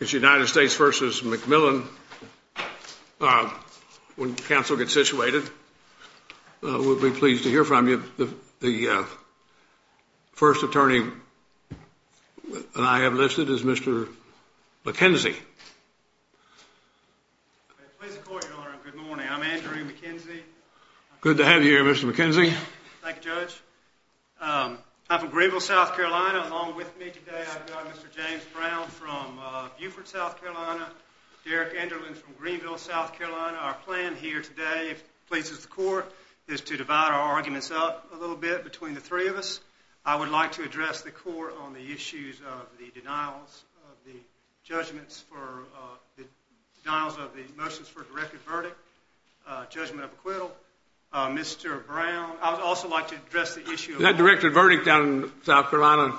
It's United States v. McMillan. When counsel gets situated, we'll be pleased to hear from you. The first attorney I have listed is Mr. McKenzie. Good to have you here with us today. I'd like to address the court on the issues of the denials, the judgments for the motions for a directed verdict, judgment of acquittal. Mr. Brown, I'd also like to address the issue of- That directed verdict down in South Carolina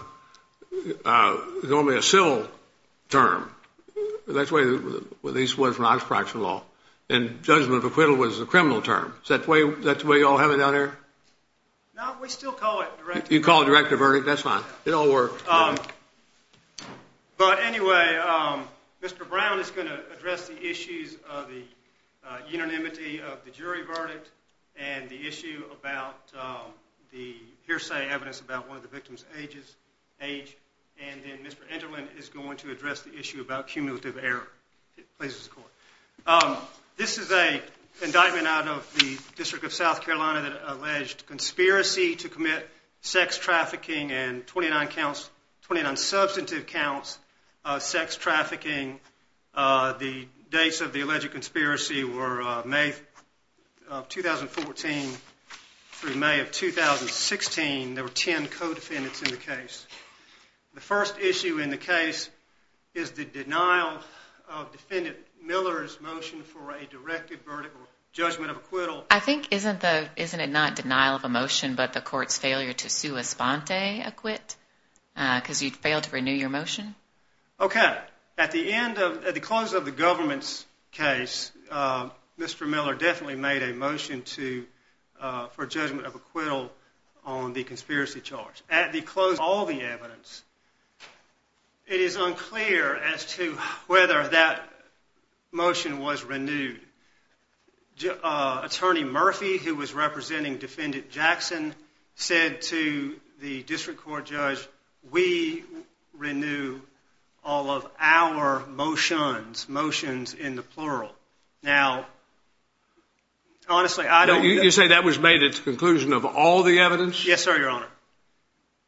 is only a civil term. That's the way it was when I was practicing law. And judgment of acquittal was a criminal term. Is that the way you all have it down there? No, we still call it directed. You call it directed verdict? That's fine. It all works. But anyway, Mr. Brown is going to address the issues of the unanimity of the jury verdict and the issue about the hearsay evidence about one of the victims' age. And then Mr. Enderlin is going to address the issue about cumulative error. Please, Mr. Court. This is an indictment out of the District of South Carolina that alleged conspiracy to commit sex trafficking and 29 counts, 29 substantive counts of sex trafficking. The dates of the indictment, 2014 through May of 2016, there were 10 co-defendants in the case. The first issue in the case is the denial of Defendant Miller's motion for a directed verdict or judgment of acquittal. I think, isn't it not denial of a motion, but the court's failure to sua sponte acquit? Because you failed to renew your motion? Okay. At the end of, at the close of the government's case, Mr. Miller definitely made a motion to, for judgment of acquittal on the conspiracy charge. At the close of all the evidence, it is unclear as to whether that motion was renewed. Attorney Murphy, who was representing Defendant Jackson, said to the district court judge, we renew all of our motions, motions in the plural. Now, honestly, I don't... You say that was made at the conclusion of all the evidence? Yes, sir, your honor.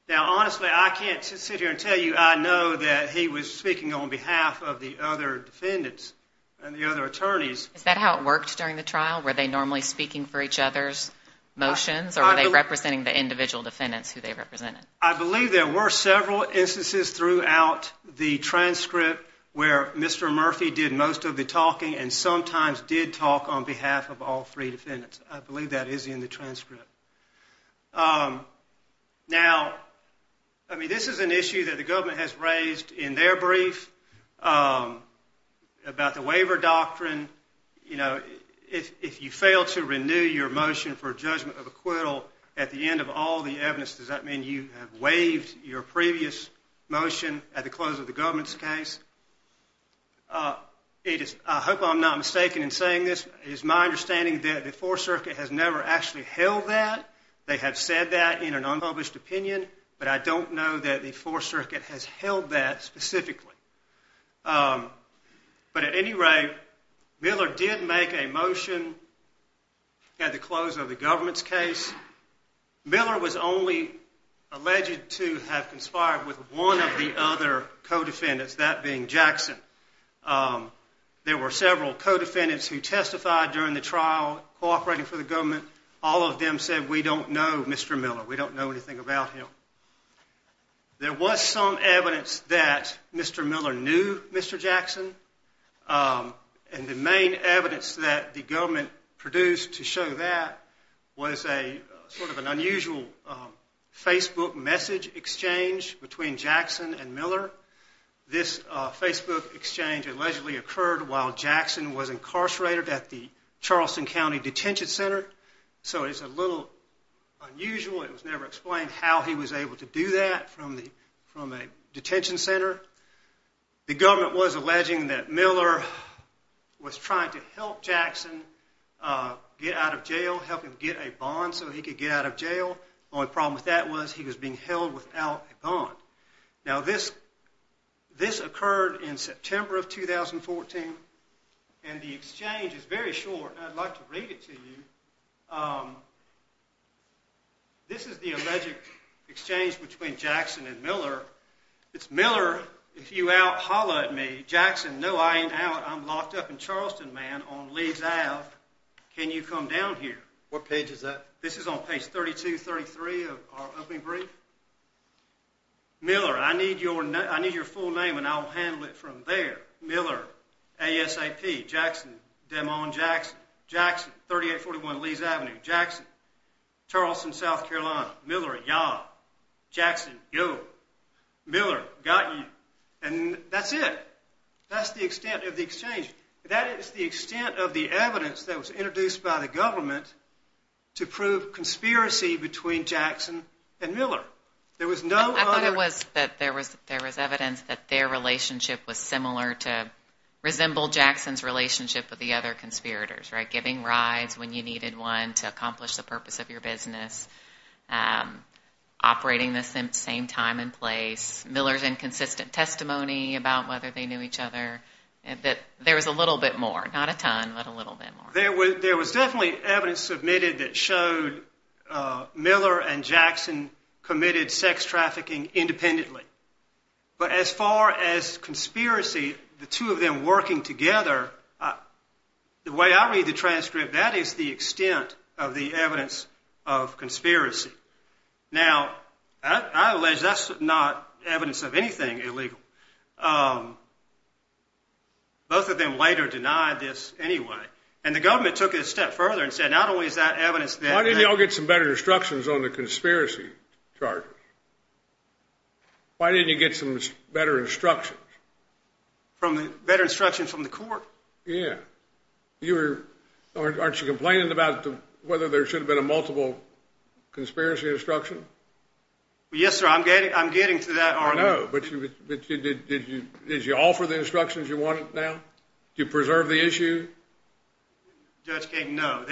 Now, honestly, I can't sit here and tell you I know that he was speaking on behalf of the other defendants and the other attorneys. Is that how it worked during the trial? Were they normally speaking for each other's motions or were they representing the individual defendants who they represented? I believe there were several instances throughout the transcript where Mr. Murphy did most of the talking and sometimes did talk on behalf of all three defendants. I believe that is in the transcript. Now, I mean, this is an issue that the government has raised in their brief about the waiver doctrine. You know, if you fail to renew your motion for judgment of acquittal at the end of all the evidence, does that mean you have waived your previous motion at the close of the government's case? I hope I'm not mistaken in saying this. It is my understanding that the Fourth Circuit has never actually held that. They have said that in an unpublished opinion, but I don't know that the Fourth Circuit has held that specifically. But at any rate, Miller did make a motion at the close of the government's case. Miller was only alleged to have conspired with one of the other co-defendants, that being Jackson. There were several co-defendants who testified during the trial cooperating for the government. All of them said, we don't know Mr. Miller. We don't know anything about him. There was some evidence that Mr. Miller knew Mr. Jackson, and the main evidence that the government produced to show that was sort of an unusual Facebook message exchange between Jackson and Miller. This Facebook exchange allegedly occurred while Jackson was incarcerated at the Charleston County Detention Center, so it's a little unusual. It was never explained how he was able to do that from a detention center. The government was alleging that Miller was trying to help Jackson get out of jail, help him get a bond so he could get out of jail. The only problem with that was he was being held without a bond. Now this occurred in September of 2014, and the exchange is very short, and I'd like to read it to you. This is the alleged exchange between Jackson and Miller. It's, Miller, if you out, holla at me. Jackson, no I ain't out. I'm locked up in Charleston, man, on Lee's Ave. Can you come down here? What page is that? This is on page 32-33 of our opening brief. Miller, I need your full name and I'll handle it from there. Miller, A-S-A-P, Jackson, Demon Jackson, Jackson, 3841 Lee's Ave., Jackson, Charleston, South Carolina, Miller, yah, Jackson, yo, Miller, got you. And that's it. That's the extent of the exchange. That is the extent of the evidence that was introduced by the government to prove conspiracy between Jackson and Miller. There was no other... I thought it was that there was evidence that their giving rides when you needed one to accomplish the purpose of your business. Operating the same time and place. Miller's inconsistent testimony about whether they knew each other. There was a little bit more, not a ton, but a little bit more. There was definitely evidence submitted that showed Miller and Jackson committed sex trafficking independently. But as far as conspiracy, the two of them working together, the way I read the transcript, that is the extent of the evidence of conspiracy. Now, I allege that's not evidence of anything illegal. Both of them later denied this anyway. And the government took it a step further and said not only is that evidence that... Why didn't y'all get some better instructions on the conspiracy charges? Why didn't you get some better instructions? Better instructions from the court? Yeah. Aren't you complaining about whether there should have been a multiple conspiracy instruction? Yes, sir. I'm getting to that argument. No, but did you offer the instructions you wanted now? Did you preserve the issue? Judge Kagan, no.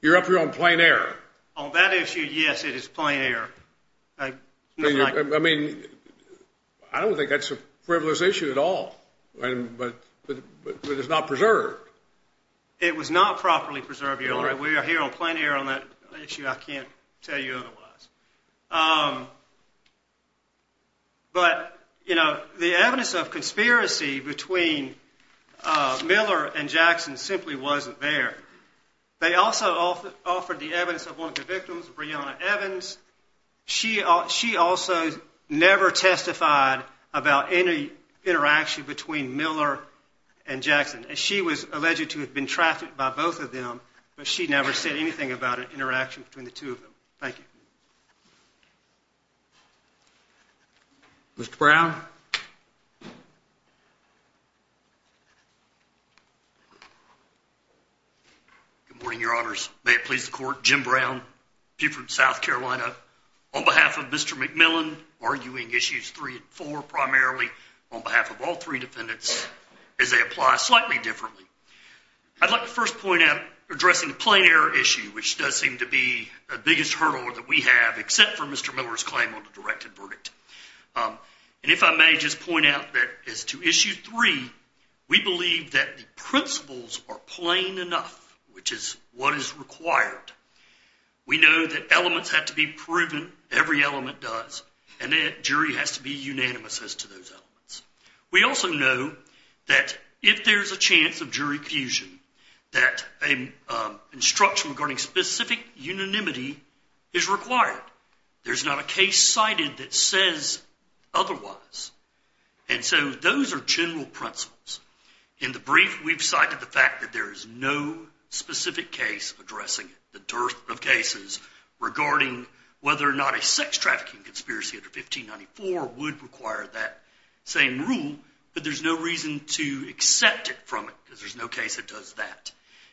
You're up here on plain error. On that issue, yes, it is plain error. I mean, I don't think that's a frivolous issue at all. But it's not preserved. It was not properly preserved, Your Honor. We are here on plain error on that issue. I can't tell you otherwise. But, you know, the evidence of conspiracy between Miller and Jackson simply wasn't there. They also offered the evidence of one of the victims, Breonna Evans. She also never testified about any interaction between Miller and Jackson. She was alleged to have been trafficked by both of them, but she never said anything about an interaction between the two of them. Thank you. Mr. Brown? Good morning, Your Honors. I'm sorry to interrupt. May it please the Court. Jim Brown, Buford, South Carolina, on behalf of Mr. McMillan arguing Issues 3 and 4 primarily, on behalf of all three defendants, as they apply slightly differently. I'd like to first point out, addressing the plain error issue, which does seem to be the biggest hurdle that we have, except for Mr. Miller's claim on the directed verdict. And if I may just point out that as to Issue 3, we believe that the principles are plain enough, which is what is required. We know that elements have to be proven. Every element does. And the jury has to be unanimous as to those elements. We also know that if there's a chance of jury fusion, that an instruction regarding specific unanimity is required. There's not a case cited that says otherwise. And so those are general principles. In the fact that there is no specific case addressing it, the dearth of cases regarding whether or not a sex trafficking conspiracy under 1594 would require that same rule, but there's no reason to accept it from it, because there's no case that does that.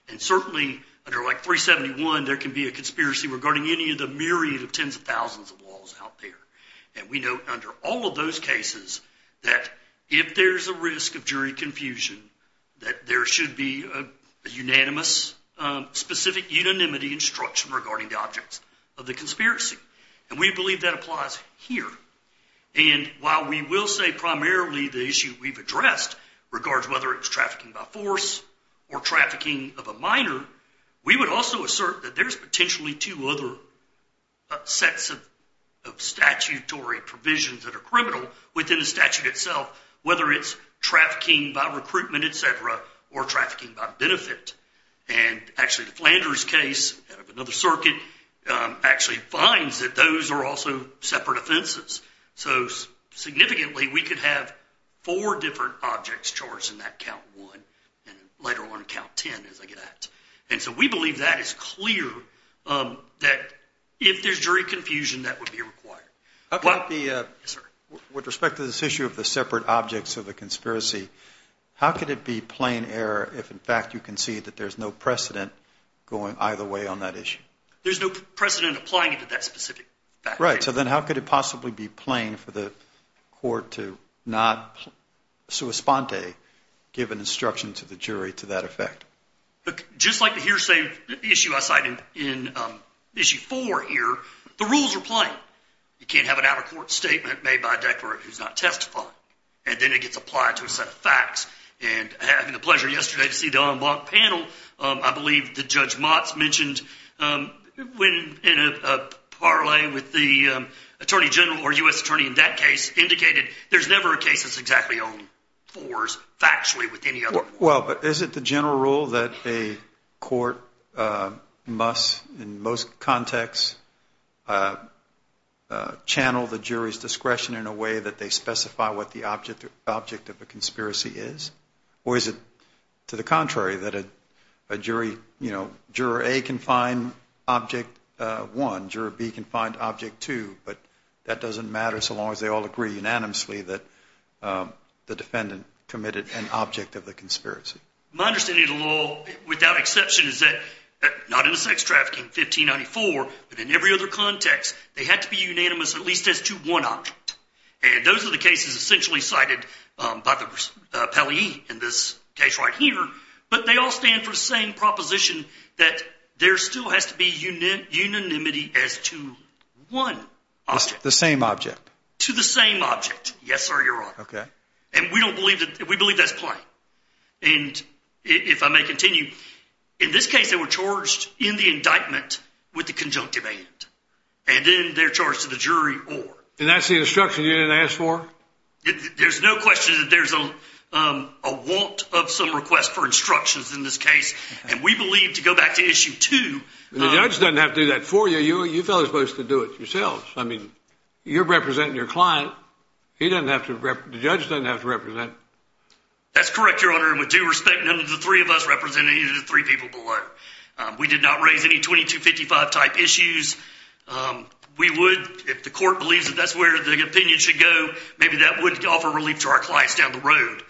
And certainly under like 371, there can be a conspiracy regarding any of the myriad of tens of thousands of laws out there. And we know under all of those cases, that if there's a risk of jury confusion, that there should be a unanimous, specific unanimity instruction regarding the objects of the conspiracy. And we believe that applies here. And while we will say primarily the issue we've addressed regards whether it's trafficking by force or trafficking of a minor, we would also assert that there's potentially two other sets of statutory provisions that are criminal within the statute itself, whether it's trafficking by recruitment, et cetera, or trafficking by benefit. And actually the Flanders case, out of another circuit, actually finds that those are also separate offenses. So significantly, we could have four different objects charged in that count one, and later on count 10, as I get at. And so we believe that is clear, that if there's jury confusion, that would be required. With respect to this issue of the separate objects of the conspiracy, how could it be plain error if in fact you can see that there's no precedent going either way on that issue? There's no precedent applying it to that specific fact. Right. So then how could it possibly be plain for the court to not sui sponte, give an instruction to the jury to that effect? Just like the hearsay issue I cited in issue four here, the rules are plain. You can't have an out-of-court statement made by a declarant who's not testifying. And then it gets applied to a set of facts. And having the pleasure yesterday to see the en banc panel, I believe that Judge Motz mentioned when in a parlay with the Attorney General or U.S. Attorney in that case, indicated there's never a case that's exactly on fours factually with any other. Well, but is it the general rule that a court must in most contexts channel the jury's discretion in a way that they specify what the object of the conspiracy is? Or is it to the contrary that a jury, you know, juror A can find object one, juror B can find object two, but that doesn't matter so long as they all agree unanimously that the defendant committed an object of the conspiracy. My understanding of the law, without exception, is that not in the sex trafficking 1594, but in every other context, they had to be unanimous at least as to one object. And those are the cases essentially cited by the appellee in this case right here. But they all stand for the same proposition that there still has to be unanimity as to one object. The same object. To the same object. Yes, sir. You're right. Okay. And we don't believe that. We believe that's playing. And if I may continue in this case, they were charged in the indictment with the conjunctive and then they're charged to the jury or and that's the instruction you didn't ask for. There's no question that there's a want of some request for instructions in this case. And we believe to go back to issue two, the judge doesn't have to do that for you. You are supposed to do it yourself. I mean, you're representing your client. He doesn't have to. The judge doesn't have to represent. That's correct, Your Honor. And with due respect, none of the three of us represented the three people below. We did not raise any twenty to fifty five type issues. We would if the court believes that that's where the opinion should go. Maybe that would offer relief to our clients down the road.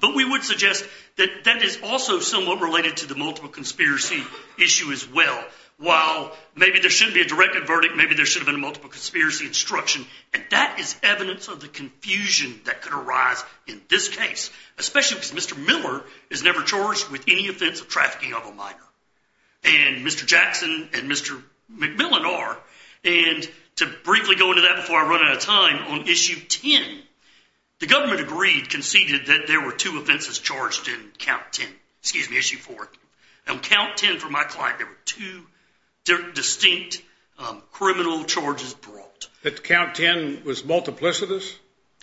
But we would suggest that that is also somewhat related to the multiple conspiracy issue as well. While maybe there should be a direct verdict, maybe there should have been a multiple conspiracy instruction. And that is evidence of the confusion that could arise in this case, especially because Mr. Miller is never charged with any offense of trafficking of a minor. And Mr. Jackson and Mr. McMillan are. And to briefly go into that before I run out of time on issue ten, the government agreed, conceded that there were two offenses charged in count ten. Excuse me, issue four. On count ten for my client, there were two distinct criminal charges brought. That count ten was multiplicitous?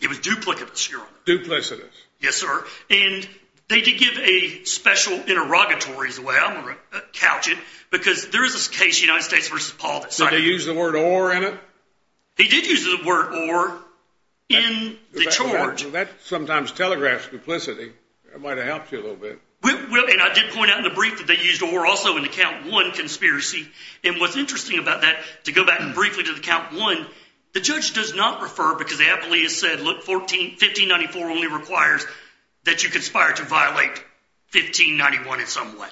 It was duplicitous, Your Honor. Duplicitous. Yes, sir. And they did give a special interrogatory as well, I'm going to couch it, because there is a case, United States v. Paul, that cited Did they use the word or in it? He did use the word or in the charge. That sometimes telegraphs duplicity. It might have helped you a little bit. And I did point out in the brief that they used or also in the count one conspiracy. And what's interesting about that, to go back and briefly to the count one, the judge does not refer, because the appellee has said, look, 1594 only requires that you conspire to violate 1591 in some way.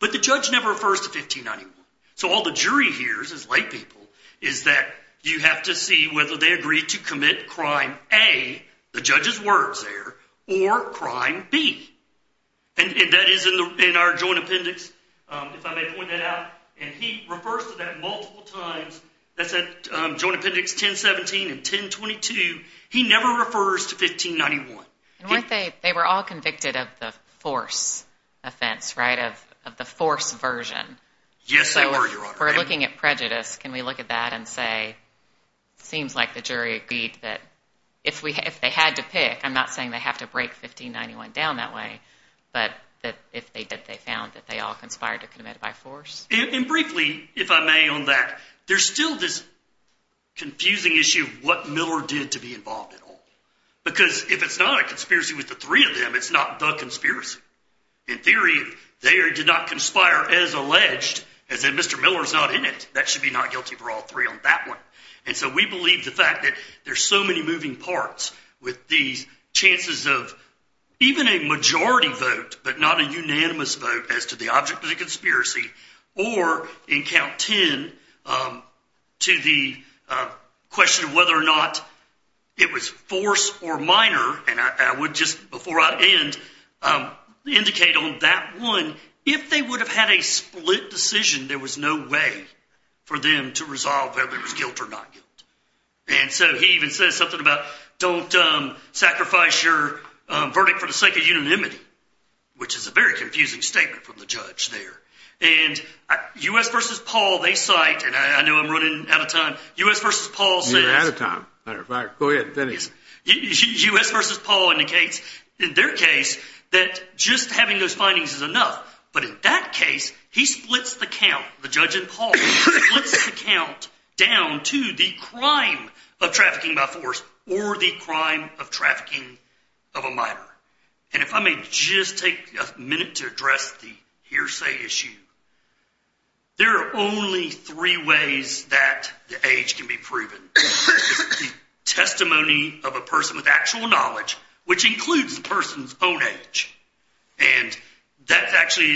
But the judge never refers to 1591. So all the jury hears as lay people is that you have to see whether they agree to commit crime A, the judge's words there, or crime B. And that is in our joint appendix, if I may point that out. And he refers to that multiple times. That's at joint appendix 1017 and 1022. He never refers to 1591. And weren't they, they were all convicted of the force offense, right? Of the force version. Yes, they were, your honor. So we're looking at prejudice. Can we look at that and say, seems like the jury agreed that if they had to pick, I'm not saying they have to break 1591 down that way, but that if they did, they found that they all conspired to commit by force? And briefly, if I may on that, there's still this confusing issue of what Miller did to be involved at all. Because if it's not a conspiracy with the three of them, it's not the conspiracy. In theory, they did not conspire as alleged, as in Mr. Miller's not in it. That should be not guilty for all three on that one. And so we believe the fact that there's so many moving parts with these chances of even a majority vote, but not a unanimous vote as to the object of the conspiracy, or in count 10, to the question of whether or not it was force or minor. And I would just, before I end, indicate on that one, if they would have had a split decision, there was no way for them to resolve whether it was guilt or not guilt. And so he even says something about, don't sacrifice your verdict for the sake of unanimity, which is a very confusing statement from the judge there. And U.S. versus Paul, they cite, and I know I'm running out of time, U.S. versus Paul says- U.S. versus Paul indicates, in their case, that just having those findings is enough. But in that case, he splits the count, the judge and Paul, splits the count down to the crime of trafficking by force or the crime of trafficking of a minor. And if I may just take a minute to address the hearsay issue, there are only three ways that the age can be proven. It's the testimony of a person with actual knowledge, which includes the person's own age. And that actually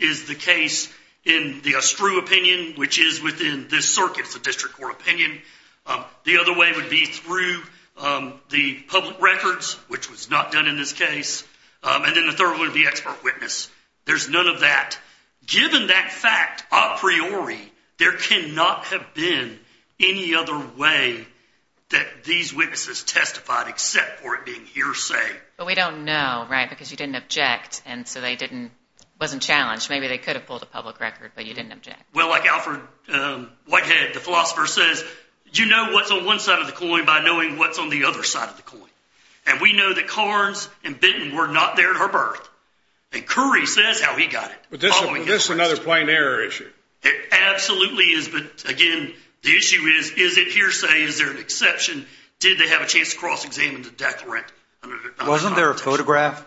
is the case in the astrew opinion, which is within this circuit, it's a district court opinion. The other way would be through the public records, which was not done in this case. And then the third one would be expert witness. There's none of that. Given that fact a priori, there cannot have been any other way that these witnesses testified except for it being hearsay. But we don't know, right? Because you didn't object. And so they didn't, wasn't challenged. Maybe they could have pulled a public record, but you didn't object. Well, like Alfred Whitehead, the philosopher says, you know what's on one side of the coin by knowing what's on the other side of the coin. And we know that Carnes and Benton were not there at her birth. And Currie says how he got it. But this is another plain error issue. It absolutely is. But again, the issue is, is it hearsay? Is there an exception? Did they have a chance to cross-examine the declarant? Wasn't there a photograph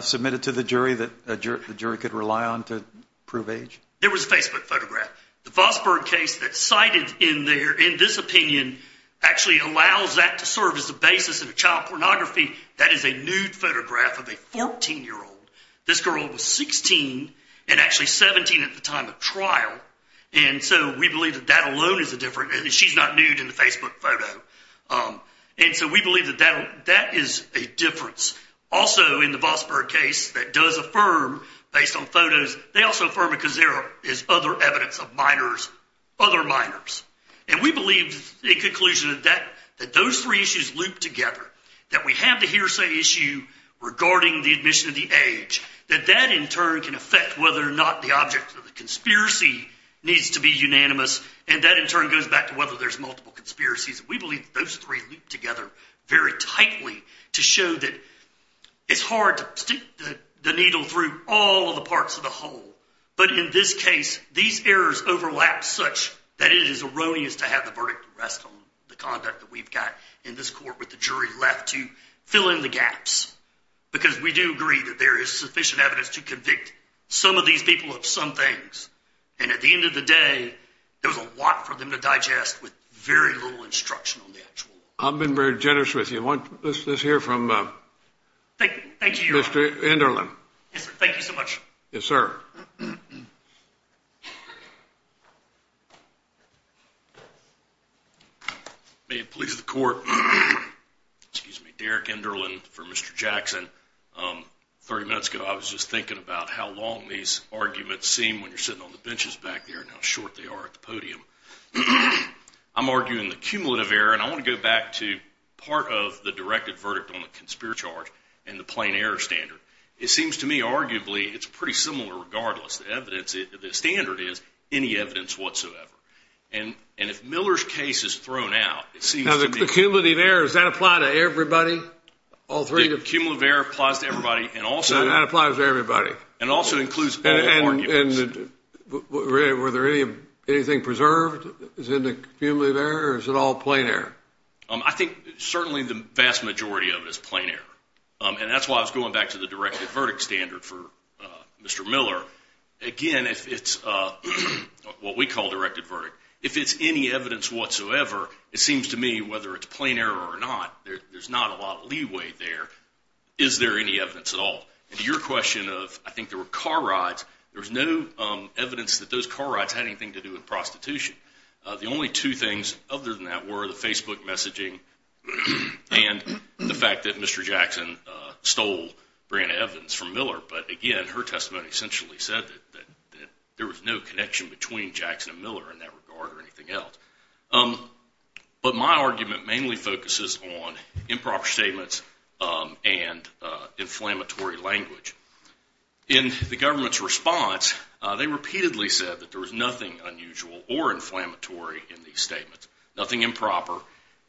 submitted to the jury that a jury could rely on to prove age? There was a Facebook photograph. The Fosberg case that's cited in this opinion actually allows that to serve as the basis of child pornography. That is a nude photograph of a 14-year-old. This girl was 16 and actually 17 at the time of trial. And so we believe that that alone is a difference. And she's not nude in the Facebook photo. And so we believe that that is a difference. Also in the Fosberg case that does affirm based on photos, they also affirm because there is other evidence of minors, other minors. And we believe in conclusion that those three issues loop together, that we have the hearsay issue regarding the admission of the age, that that in turn can affect whether or not the object of the conspiracy needs to be unanimous. And that in turn goes back to whether there's multiple conspiracies. We believe those three loop together very tightly to show that it's hard to stick the needle through all of the parts of the whole. But in this case, these errors overlap such that it is erroneous to have the verdict to rest on the conduct that we've got in this court with the jury left to fill in the gaps. Because we do agree that there is sufficient evidence to convict some of these people of some things. And at the end of the day, there was a lot for them to digest with very little instruction on the actual. I've been very generous with you. Let's hear from Mr. Enderlin. Thank you so much. Yes, sir. May it please the court. Excuse me, Derek Enderlin for Mr. Jackson. 30 minutes ago, I was just thinking about how long these arguments seem when you're sitting on the benches back there and how short they are at the podium. I'm arguing the cumulative error. And I want to go back to part of the directed verdict on the conspirator charge and the it's pretty similar regardless. The standard is any evidence whatsoever. And if Miller's case is thrown out, it seems to be... Now the cumulative error, does that apply to everybody? All three? The cumulative error applies to everybody and also... So that applies to everybody. And also includes all arguments. And were there any anything preserved in the cumulative error or is it all plain error? I think certainly the vast majority of it is plain error. And that's why I was going back to directed verdict standard for Mr. Miller. Again, if it's what we call directed verdict, if it's any evidence whatsoever, it seems to me whether it's plain error or not, there's not a lot of leeway there. Is there any evidence at all? And to your question of, I think there were car rides. There was no evidence that those car rides had anything to do with prostitution. The only two things other than that were the Facebook messaging and the fact that Mr. Jackson stole Brianna Evans from Miller. But again, her testimony essentially said that there was no connection between Jackson and Miller in that regard or anything else. But my argument mainly focuses on improper statements and inflammatory language. In the government's response, they repeatedly said that there was nothing unusual or inflammatory in these statements, nothing improper,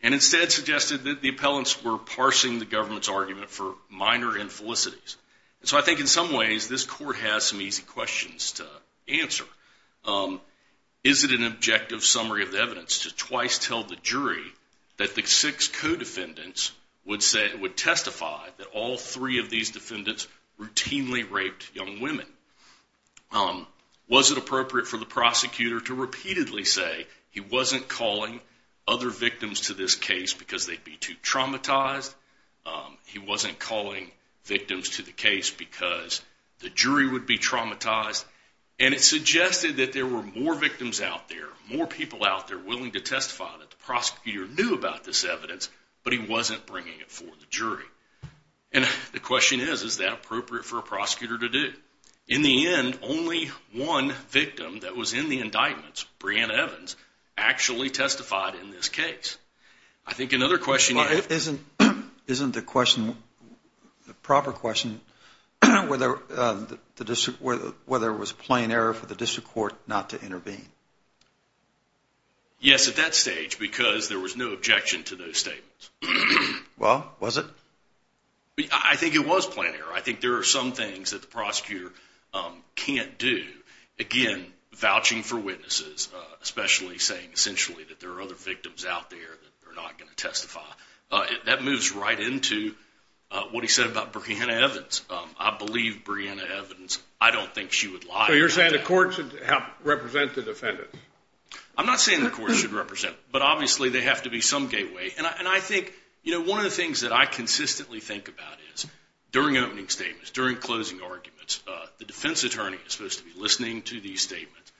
and instead suggested that the appellants were parsing the government's argument for minor infelicities. And so I think in some ways, this court has some easy questions to answer. Is it an objective summary of the evidence to twice tell the jury that the six co-defendants would testify that all three of these defendants routinely raped young women? Was it appropriate for the prosecutor to repeatedly say he wasn't calling other victims to this case because they'd be too traumatized? He wasn't calling victims to the case because the jury would be traumatized? And it suggested that there were more victims out there, more people out there willing to testify that the prosecutor knew about this evidence, but he wasn't bringing it for the jury. And the question is, is that appropriate for a prosecutor to do? In the end, only one victim that was in the indictments, Breanna Evans, actually testified in this case. I think another question... Isn't the question, the proper question, whether there was plain error for the district court not to intervene? Yes, at that stage, because there was no objection to those statements. Well, was it? I think it was plain error. I think there are some things that the prosecutor can't do. Again, vouching for witnesses, especially saying essentially that there are other victims out there that are not going to testify. That moves right into what he said about Breanna Evans. I believe Breanna Evans. I don't think she would lie about that. So you're saying the court should help represent the defendants? I'm not saying the court should represent, but obviously they have to be some gateway. And I think one of the things that I consistently think about is during opening statements, during closing arguments, the defense attorney is supposed to be listening to these statements,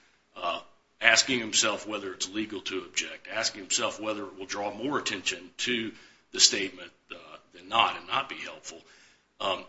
asking himself whether it's legal to object, asking himself whether it will draw more attention to the statement than not and not be helpful,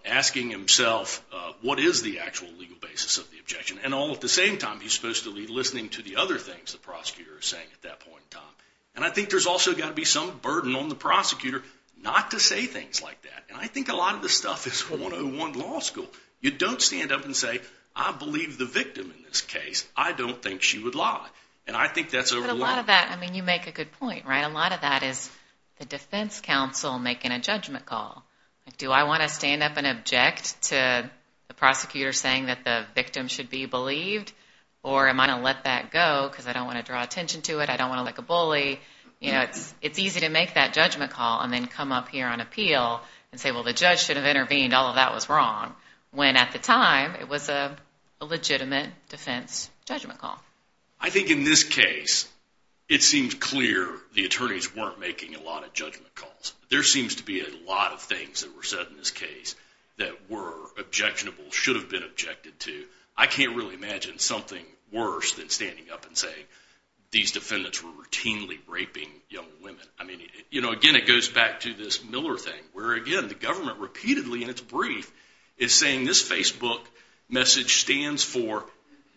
asking himself what is the actual legal basis of the objection. And all at the same time, he's supposed to be listening to the other things the prosecutor is saying at that point in time. And I think there's also got to be some burden on the prosecutor not to say things like that. And I think a lot of this stuff is 101 law school. You don't stand up and say, I believe the victim in this case. I don't think she would lie. And I think that's a lot of that. I mean, you make a good point, right? A lot of that is the defense counsel making a judgment call. Do I want to stand up and object to the prosecutor saying that the victim should be believed? Or am I going to let that go because I don't want to draw attention to it? I don't want to look like a bully. It's easy to make that judgment call and then come up here on appeal and say, well, the judge should have intervened. All of that was wrong. When at the time, it was a legitimate defense judgment call. I think in this case, it seems clear the attorneys weren't making a lot of judgment calls. There seems to be a lot of things that were said in this case that were objectionable, should have been objected to. I can't really imagine something worse than standing up and saying these defendants were routinely raping young women. I mean, again, it goes back to this Miller thing where, again, the government repeatedly in its brief is saying this Facebook message stands for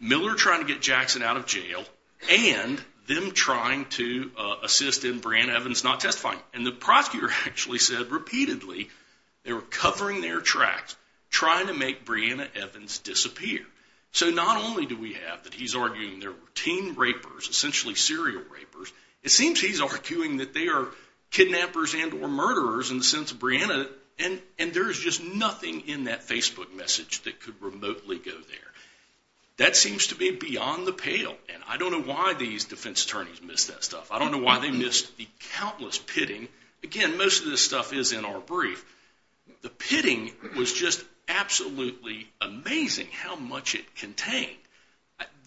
Miller trying to get Jackson out of jail and them trying to assist in Breanna Evans not testifying. And the prosecutor actually said repeatedly they were covering their tracks trying to make Breanna Evans disappear. So not only do we have that he's arguing they're routine rapers, essentially serial rapers, it seems he's arguing that they are kidnappers and or murderers in the sense of Breanna. And there is just nothing in that Facebook message that could remotely go there. That seems to be beyond the pale. And I don't know why these defense attorneys missed that stuff. I don't know why they missed the countless pitting. Again, most of this stuff is in our brief. The pitting was just absolutely amazing how much it contained.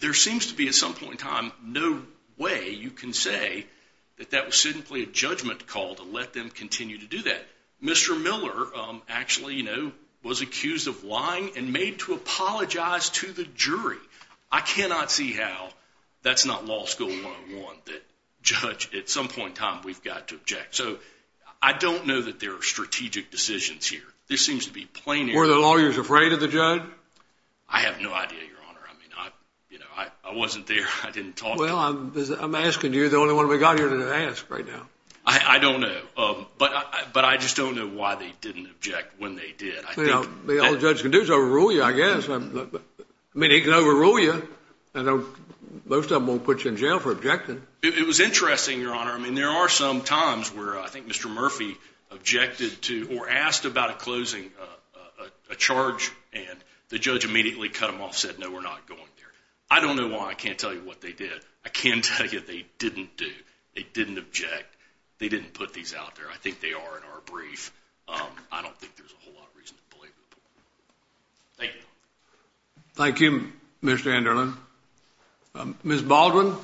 There seems to be at some point in time no way you can say that that was simply a judgment call to let them continue to do that. Mr. Miller actually, was accused of lying and made to apologize to the jury. I cannot see how that's not law school one on one that judge at some point in time we've got to object. So I don't know that there are strategic decisions here. This seems to be plain. Were the lawyers afraid of the judge? I have no idea, your honor. I mean, I wasn't there. I didn't talk. Well, I'm asking you the only one we got here to ask right now. I don't know. But I just don't know why they didn't object when they did. Well, the old judge can do is overrule you, I guess. I mean, he can overrule you. And most of them won't put you in jail for objecting. It was interesting, your honor. I mean, there are some times where I think Mr. Murphy objected to or asked about a closing a charge. And the judge immediately cut him off, said, No, we're not going there. I don't know why. I can't tell you what they did. I can tell you they didn't do. They didn't object. They didn't put these out there. I think they are in our brief. I don't think there's a whole lot of reason to believe it. Thank you. Thank you, Mr. Anderlin. Ms. Baldwin.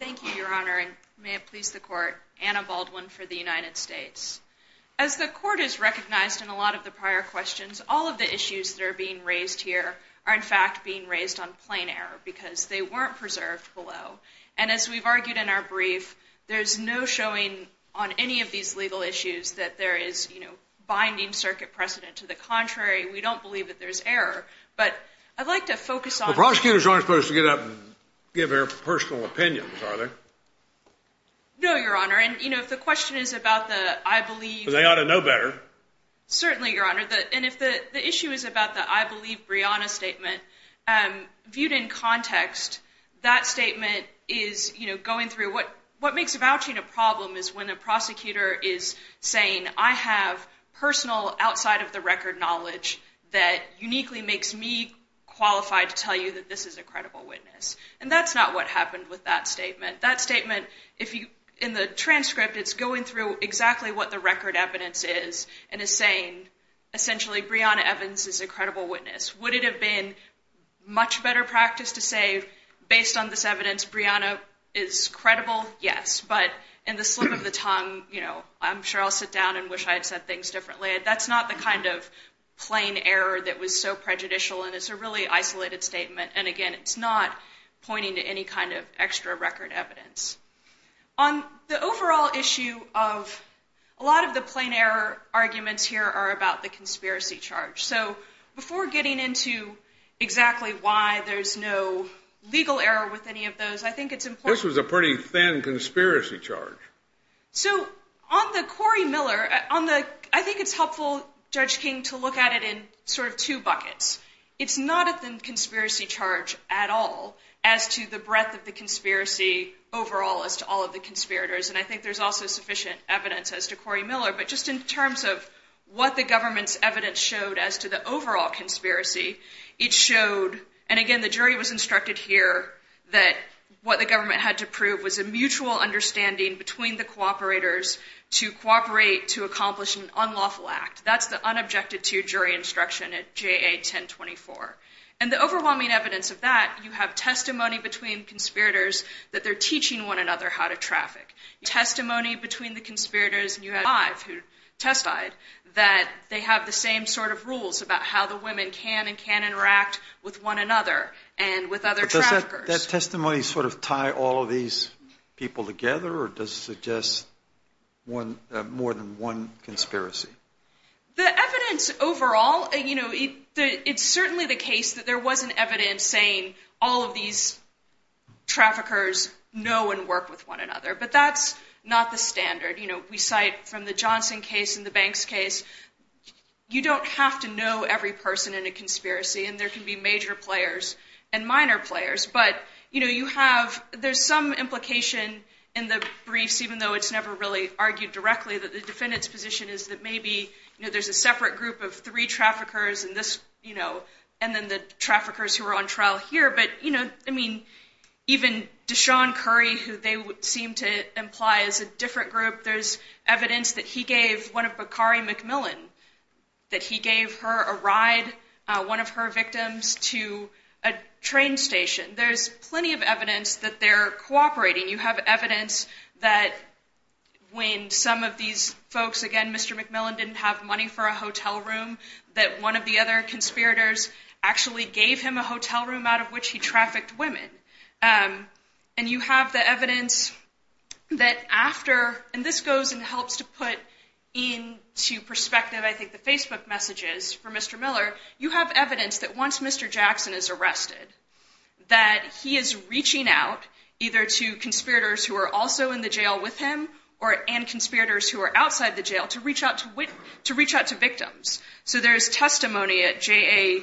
Thank you, your honor. And may it please the court, Anna Baldwin for the United States. As the court is recognized in a lot of the prior questions, all of the issues that are being raised here are in fact being raised on plain error because they weren't preserved below. And as we've argued in our brief, there's no showing on any of these legal issues that there is, you know, binding circuit precedent. To the contrary, we don't believe that there's error, but I'd like to focus on prosecutors aren't supposed to get up and give their personal opinions. Are there? No, your honor. And, you know, if the question is about the, I believe they ought to know better. Certainly, your honor. And if the issue is about the, I believe Brianna's statement, um, viewed in context, that statement is, you know, going through what, what makes a vouching a problem is when a prosecutor is saying, I have personal outside of the record knowledge that uniquely makes me qualified to tell you that this is a credible witness. And that's not what happened with that statement. That statement, if you, in the transcript, it's going through exactly what the record evidence is and is saying, essentially, Brianna Evans is a credible witness. Would it have been much better practice to say, based on this evidence, Brianna is credible? Yes. But in the slip of the tongue, you know, I'm sure I'll sit down and wish I had said things differently. That's not the kind of plain error that was so prejudicial. And it's a really isolated statement. And again, it's not pointing to any kind of extra record evidence. On the overall issue of a lot of the plain error arguments here are about the conspiracy charge. So before getting into exactly why there's no legal error with any of those, I think it's important. This was a pretty thin conspiracy charge. So on the Cory Miller, on the, I think it's helpful Judge King to look at it in sort of two buckets. It's not a thin conspiracy charge at all as to the breadth of the conspiracy overall as to all of the conspirators. And I think there's also sufficient evidence as to what the government's evidence showed as to the overall conspiracy it showed. And again, the jury was instructed here that what the government had to prove was a mutual understanding between the cooperators to cooperate, to accomplish an unlawful act. That's the unobjected to jury instruction at JA 1024. And the overwhelming evidence of that, you have testimony between conspirators that they're teaching one another how to traffic testimony between the conspirators and you have five who testified that they have the same sort of rules about how the women can and can interact with one another and with other traffickers. Does that testimony sort of tie all of these people together or does it suggest one more than one conspiracy? The evidence overall, you know, it's certainly the case that there wasn't evidence saying all of these traffickers know and work with one another, but that's not the standard. You know, we cite from the Johnson case and the Banks case, you don't have to know every person in a conspiracy and there can be major players and minor players, but you know, you have, there's some implication in the briefs, even though it's never really argued directly that the defendant's position is that maybe, you know, there's a separate group of three traffickers and this, you know, and then the traffickers who are on trial here, but, you know, I mean, even Deshaun Curry, who they seem to imply is a different group, there's evidence that he gave one of Bakari McMillan, that he gave her a ride, one of her victims to a train station. There's plenty of evidence that they're cooperating. You have evidence that when some of these folks, again, Mr. McMillan didn't have money for a hotel room, that one of the other conspirators actually gave him a hotel room out of which he trafficked women. And you have the evidence that after, and this goes and helps to put into perspective, I think, the Facebook messages for Mr. Miller, you have evidence that once Mr. Jackson is arrested, that he is reaching out either to conspirators who are also in the jail with him or and conspirators who are outside the jail to reach out to victims. So there's testimony at JA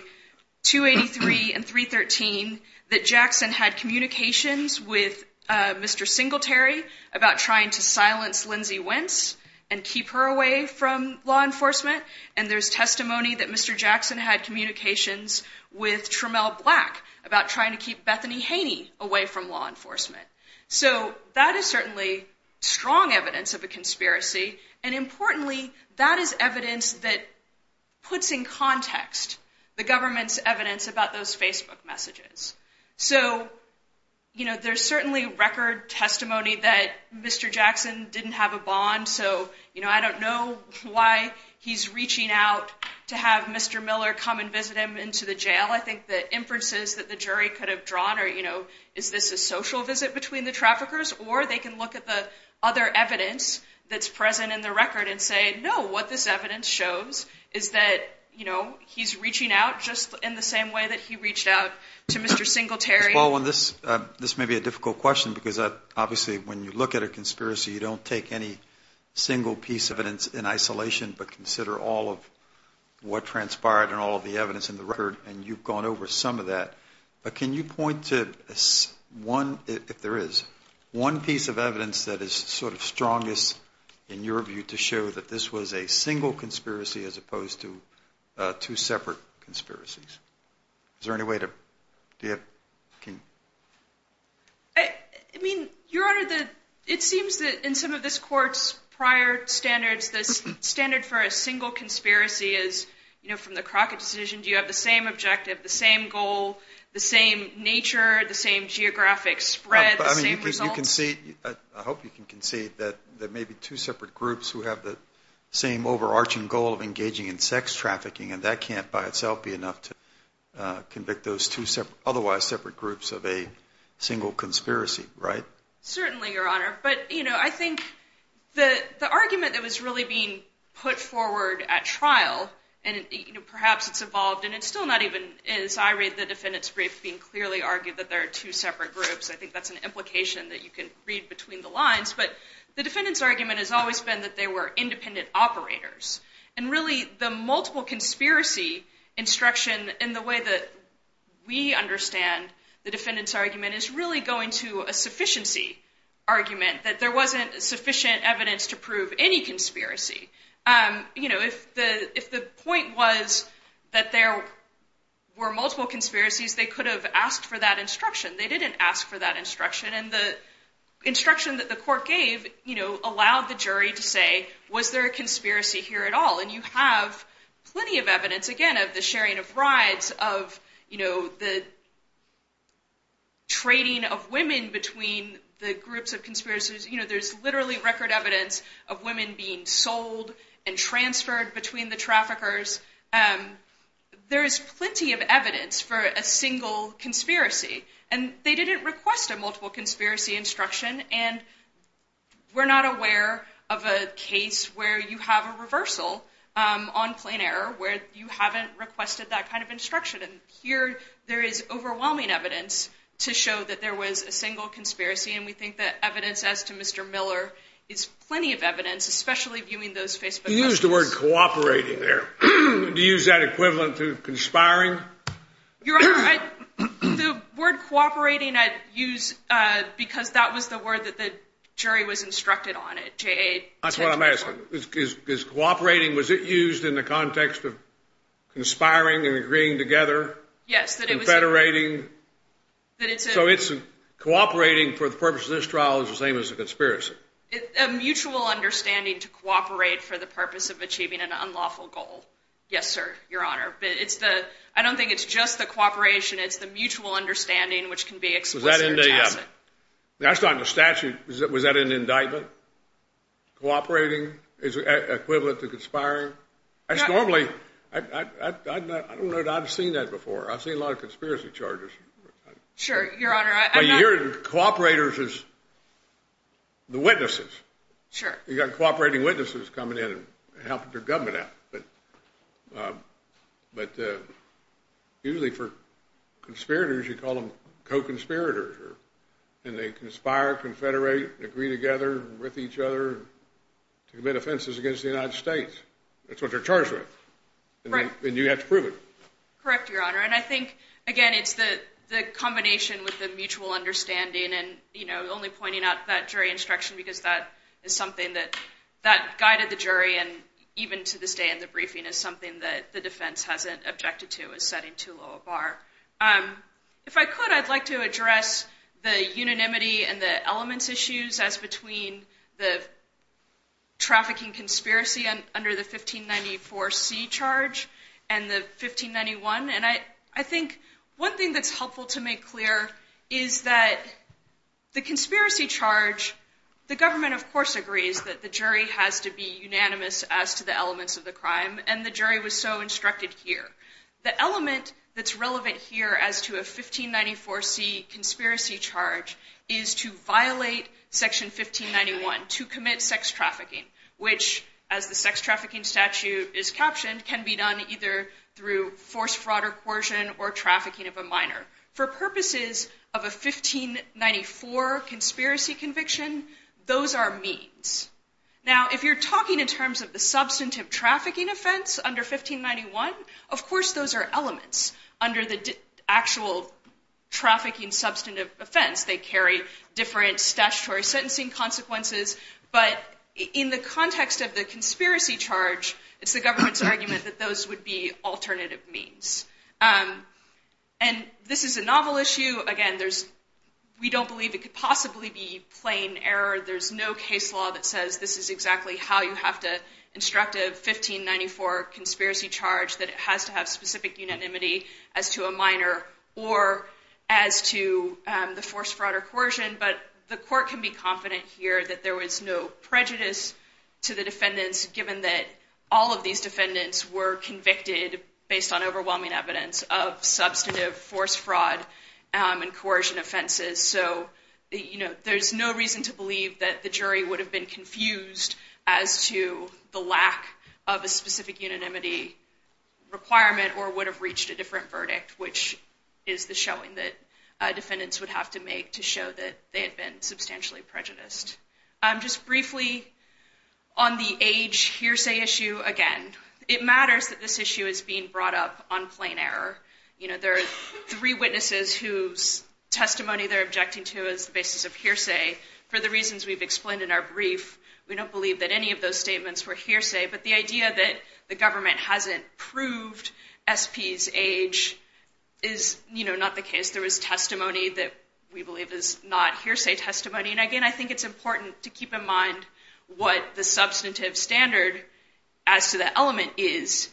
283 and 313 that Jackson had communications with Mr. Singletary about trying to silence Lindsay Wentz and keep her away from law enforcement. And there's testimony that Mr. Jackson had communications with Tramell Black about trying to keep Bethany Haney away from law enforcement. So that is certainly strong evidence of a conspiracy. And importantly, that is evidence that puts in context the government's evidence about those Facebook messages. So, you know, there's certainly record testimony that Mr. Jackson didn't have a bond. So, you know, I don't know why he's reaching out to have Mr. Miller come and visit him into the jail. I think the inferences that the jury could have drawn are, is this a social visit between the traffickers? Or they can look at the other evidence that's present in the record and say, no, what this evidence shows is that, you know, he's reaching out just in the same way that he reached out to Mr. Singletary. Ms. Baldwin, this may be a difficult question because obviously when you look at a conspiracy, you don't take any single piece of evidence in isolation, but consider all of what transpired and all of the evidence in the record, and you've gone over some of that. But can you point to one, if there is, one piece of evidence that is sort of strongest in your view to show that this was a single conspiracy as opposed to two separate conspiracies? Is there any way to, do you have, can? I mean, Your Honor, the, it seems that in some of this court's prior standards, the standard for a rocket decision, do you have the same objective, the same goal, the same nature, the same geographic spread, the same results? I mean, you can see, I hope you can see that there may be two separate groups who have the same overarching goal of engaging in sex trafficking, and that can't by itself be enough to convict those two separate, otherwise separate groups of a single conspiracy, right? Certainly, Your Honor. But, you know, I think the, the argument that was really being put forward at trial, and, you know, perhaps it's evolved, and it's still not even, as I read the defendant's brief, being clearly argued that there are two separate groups. I think that's an implication that you can read between the lines, but the defendant's argument has always been that they were independent operators. And really, the multiple conspiracy instruction, in the way that we understand the defendant's argument, is really going to a sufficiency argument, that there wasn't sufficient evidence to prove any conspiracy. You know, if the, if the point was that there were multiple conspiracies, they could have asked for that instruction. They didn't ask for that instruction, and the instruction that the court gave, you know, allowed the jury to say, was there a conspiracy here at all? And you have plenty of evidence, again, of the sharing of rides, of, you know, the trading of women between the groups of conspiracies. You know, there's literally record evidence of women being sold and transferred between the traffickers. There is plenty of evidence for a single conspiracy, and they didn't request a multiple conspiracy instruction. And we're not aware of a case where you have a reversal on plain error, where you haven't requested that kind of instruction. And here, there is overwhelming evidence to show that there was a single conspiracy, and we think that evidence as to Mr. Miller is plenty of evidence, especially viewing those Facebook posts. You used the word cooperating there. Do you use that equivalent to conspiring? Your Honor, I, the word cooperating, I use because that was the word that the jury was instructed on it, J.A. That's what I'm asking, is cooperating, was it used in the context of conspiring and agreeing together? Yes, that it was confederating. So it's cooperating for the purpose of this trial is the same as a conspiracy? It's a mutual understanding to cooperate for the purpose of achieving an unlawful goal. Yes, sir, Your Honor, but it's the, I don't think it's just the cooperation, it's the mutual understanding which can be explicit or tacit. That's not in the statute, was that an indictment? Cooperating is equivalent to conspiring? That's normally, I don't know that I've seen that before. I've seen a lot of conspiracy charges. Sure, Your Honor. But you're cooperators as the witnesses. Sure. You've got cooperating witnesses coming in and helping their government out, but usually for conspirators, you call them co-conspirators, and they conspire, confederate, agree together with each other to commit offenses against the United States. That's what they're charged with, and you have to prove it. Correct, Your Honor, and I think, again, it's the combination with the mutual understanding and, you know, only pointing out that jury instruction because that is something that guided the jury and even to this day in the briefing is something that the defense hasn't objected to as setting too low a bar. If I could, I'd like to address the unanimity and the elements issues as between the trafficking conspiracy under the 1594 C charge and the 1591, and I think one thing that's helpful to make clear is that the conspiracy charge, the government, of course, agrees that the jury has to be unanimous as to the elements of the crime, and the jury was so instructed here. The element that's relevant here as to a 1594 C conspiracy charge is to violate section 1591 to commit sex trafficking, which, as the sex trafficking statute is captioned, can be done either through force, fraud, or coercion or trafficking of a minor. For purposes of a 1594 conspiracy conviction, those are means. Now, if you're talking in terms of the substantive trafficking offense under 1591, of course, those are elements under the actual trafficking substantive offense. They carry different statutory sentencing consequences, but in the context of the conspiracy charge, it's the government's argument that those would be alternative means, and this is a novel issue. Again, there's, we don't believe it could possibly be plain error. There's no case law that says this is exactly how you have to instruct a 1594 conspiracy charge, that it has to have specific unanimity as to a minor or as to the force, fraud, or coercion, but the court can be confident here that there was no prejudice to the defendants given that all of these defendants were convicted based on overwhelming evidence of substantive force, fraud, and coercion offenses, so there's no reason to believe that the jury would have been confused as to the lack of a specific unanimity requirement or would have reached a different verdict, which is the showing that defendants would have to make to show that they had been substantially prejudiced. Just briefly, on the age hearsay issue, again, it matters that this issue is being brought up on plain error. There are three witnesses whose testimony they're objecting to is the basis of hearsay. For the reasons we've explained in our brief, we don't believe that any of those statements were hearsay, but the idea that the government hasn't proved SP's age is not the case. There was testimony that we believe is not hearsay testimony, and again, I think it's important to keep in mind what the substantive standard as to that element is.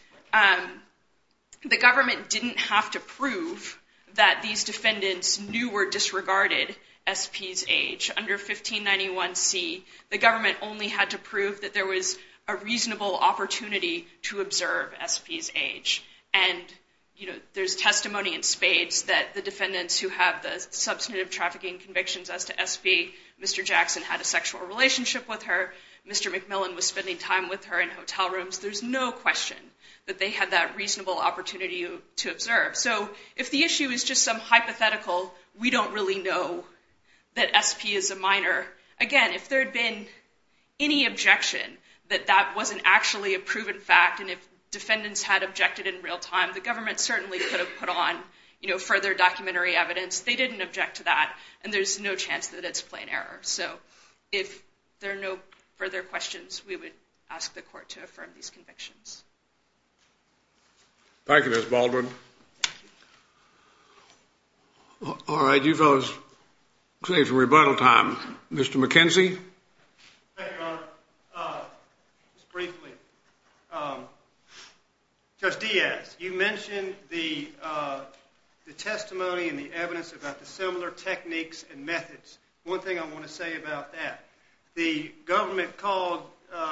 The government didn't have to prove that these defendants knew or disregarded SP's age. Under 1591C, the government only had to prove that there was a reasonable opportunity to observe SP's age, and there's testimony in spades that the defendants who have the substantive trafficking convictions as to SP, Mr. Jackson, had a sexual relationship with her. Mr. McMillan was spending time with her in hotel rooms. There's no question that they had that reasonable opportunity to observe. So if the issue is just some hypothetical, we don't really know that SP is a minor, again, if there had been any objection that that wasn't actually a proven fact, and if defendants had objected in real time, the government certainly could have put on further documentary evidence. They didn't object to that, and there's no chance that it's plain error. So if there are no further questions, we would ask the court to affirm these convictions. Thank you, Ms. Baldwin. All right, you fellas, save some rebuttal time. Mr. McKenzie? Thank you, Your Honor. Just briefly, Judge Diaz, you mentioned the testimony and the evidence about the similar techniques and methods. One thing I want to say about that, the government called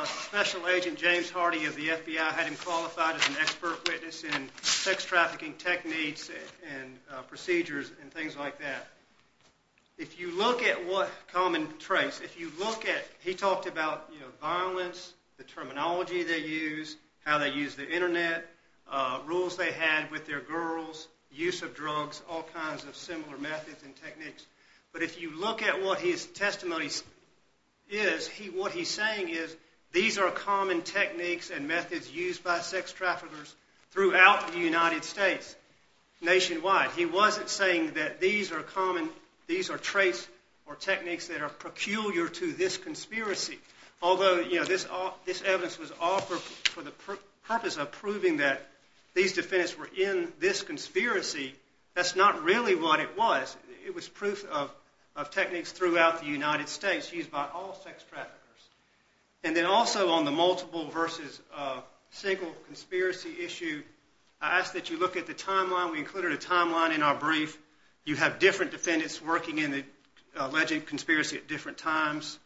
Special Agent James Hardy of the FBI, had him qualified as an expert witness in sex trafficking techniques and procedures and things like that. If you look at what common trace, if you look at, he talked about, you know, violence, the terminology they use, how they use the internet, rules they had with their girls, use of drugs, all kinds of similar methods and techniques. But if you look at what his testimony is, what he's saying is these are common techniques and methods used by sex traffickers throughout the United States, nationwide. He wasn't saying that these are common, these are traits or techniques that are peculiar to this conspiracy, although, you know, this evidence was offered for the purpose of proving that these defendants were in this conspiracy. That's not really what it was. It was proof of techniques throughout the United States used by all sex traffickers. And then also on the multiple versus single conspiracy issue, I ask that you look at the timeline. We included a timeline in our brief. You have different defendants working in the alleged conspiracy at different times.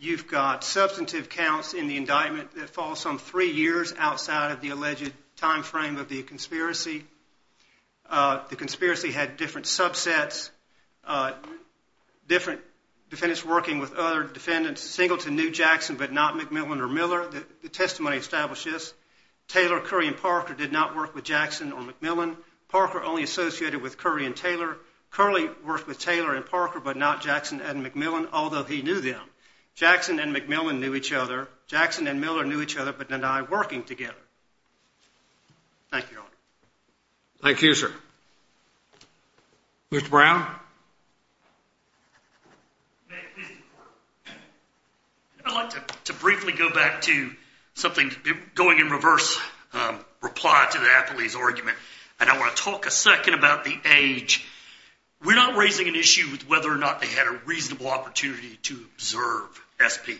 You've got substantive counts in the indictment that fall some three years outside of the alleged time frame of the conspiracy. The conspiracy had different subsets, different defendants working with other defendants. Singleton knew Jackson but not McMillan or Miller. The testimony established this. Taylor, Curry, and Parker did not work with Jackson or McMillan. Parker only associated with Curry and Taylor. Curley worked with Taylor and Parker but not Jackson and McMillan, although he knew them. Jackson and McMillan knew each other. Jackson and Miller knew each other but did not work together. Thank you, Your Honor. Thank you, sir. Mr. Brown? I'd like to briefly go back to something going in reverse reply to the Appleby's argument, and I want to talk a second about the age. We're not raising an issue with whether or not they had a reasonable opportunity to observe SP.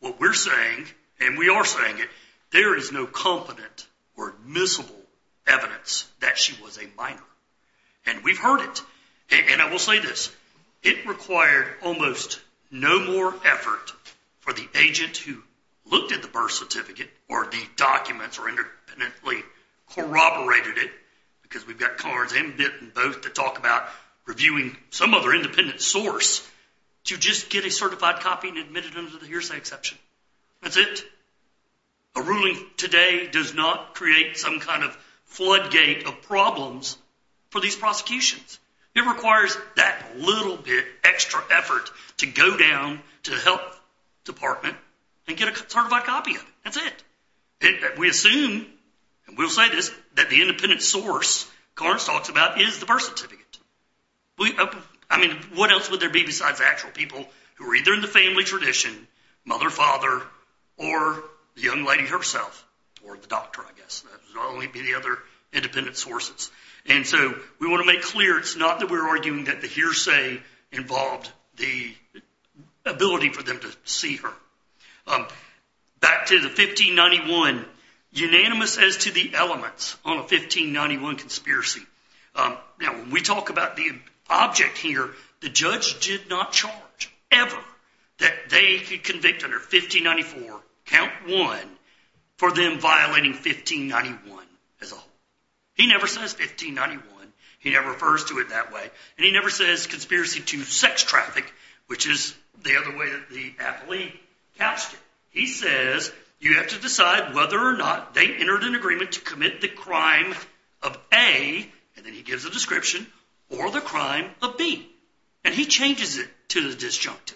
What we're saying, and we are saying it, there is no confident or admissible evidence that she was a minor, and we've heard it. And I will say this, it required almost no more effort for the agent who looked at the birth because we've got cars and bit and both to talk about reviewing some other independent source to just get a certified copy and admit it under the hearsay exception. That's it. A ruling today does not create some kind of floodgate of problems for these prosecutions. It requires that little bit extra effort to go down to the health department and get a certified copy of it. That's it. We assume, and we'll say this, that the independent source Carnes talks about is the birth certificate. I mean, what else would there be besides actual people who are either in the family tradition, mother, father, or the young lady herself, or the doctor, I guess. Not only be the other independent sources. And so we want to make clear it's not that we're arguing that hearsay involved the ability for them to see her. Back to the 1591, unanimous as to the elements on a 1591 conspiracy. Now, when we talk about the object here, the judge did not charge ever that they could convict under 1594, count one, for them violating 1591 as a whole. He never says conspiracy to sex traffic, which is the other way that the appellee couched it. He says you have to decide whether or not they entered an agreement to commit the crime of A, and then he gives a description, or the crime of B. And he changes it to the disjunct.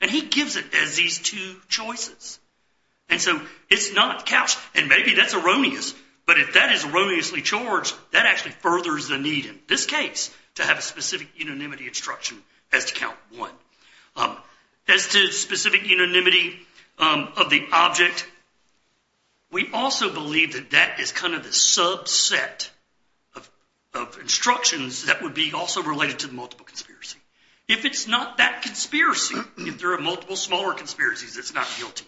And he gives it as these two choices. And so it's not couched, and maybe that's erroneous, but if that is erroneously charged, that actually furthers the need in this case to have a specific unanimity instruction as to count one. As to specific unanimity of the object, we also believe that that is kind of the subset of instructions that would be also related to the multiple conspiracy. If it's not that conspiracy, if there are multiple smaller conspiracies, it's not guilty.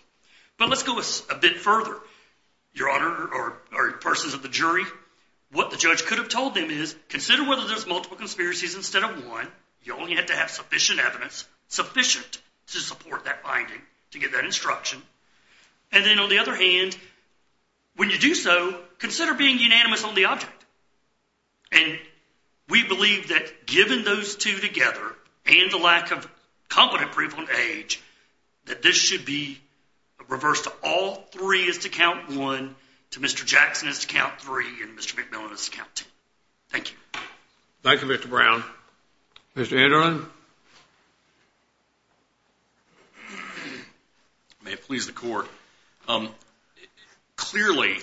But let's go a bit further. Your Honor, or persons of the jury, what the judge could have told them is, consider whether there's multiple conspiracies instead of one. You only have to have sufficient evidence, sufficient to support that finding, to get that instruction. And then on the other hand, when you do so, consider being unanimous on the object. And we believe that given those two together, and the lack of competent proof on age, that this should be reversed to all three as to count one, to Mr. Jackson as to count three, and Mr. McMillan as to count two. Thank you. Thank you, Mr. Brown. Mr. Anderson? May it please the court. Clearly,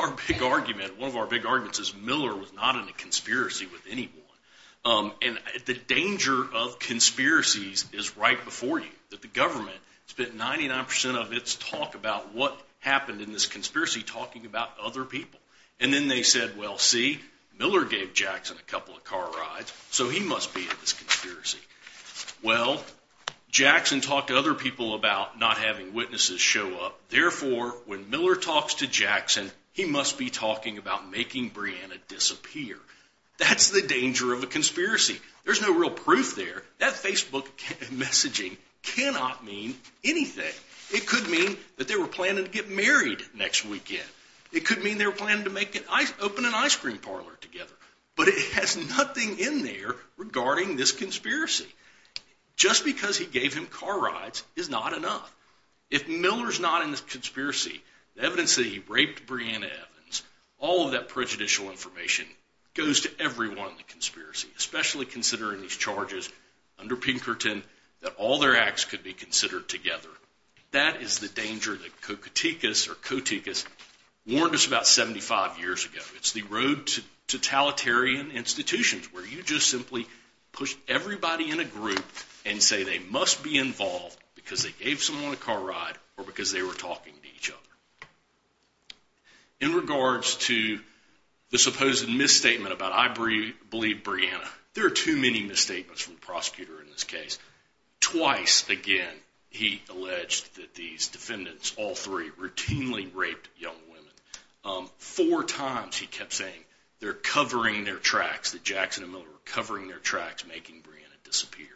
our big argument, one of our big arguments is Miller was not in a conspiracy with anyone. And the danger of conspiracies is right before you, that the government spent 99% of its talk about what happened in this conspiracy talking about other people. And then they said, well, see, Miller gave Jackson a couple of car rides, so he must be in this conspiracy. Well, Jackson talked to other people about not having witnesses show up. Therefore, when Miller talks to Jackson, he must be talking about making Brianna disappear. That's the danger of a conspiracy. There's no real proof there. That Facebook messaging cannot mean anything. It could mean that they were planning to get married next weekend. It could mean they were planning to open an ice cream parlor together. But it has nothing in there regarding this Miller's not in this conspiracy. The evidence that he raped Brianna Evans, all of that prejudicial information goes to everyone in the conspiracy, especially considering these charges under Pinkerton that all their acts could be considered together. That is the danger that Cocuticus or Coticus warned us about 75 years ago. It's the road to totalitarian institutions where you just simply push everybody in a group and say they must be involved because they gave someone a car ride or because they were talking to each other. In regards to the supposed misstatement about I believe Brianna, there are too many misstatements from the prosecutor in this case. Twice again, he alleged that these defendants, all three, routinely raped young women. Four times he kept saying they're covering their tracks, that Jackson and Miller were covering their tracks, making Brianna disappear.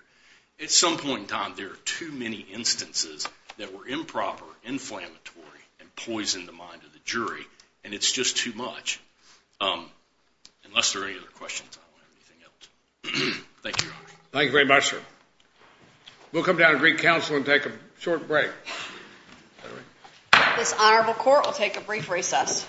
At some point in time, there are too many instances that were improper, inflammatory, and poisoned the mind of the jury, and it's just too much. Unless there are any other questions, I don't have anything else. Thank you, Your Honor. Thank you very much, sir. We'll come down to Greek Council and take a short break. This honorable court will take a brief recess.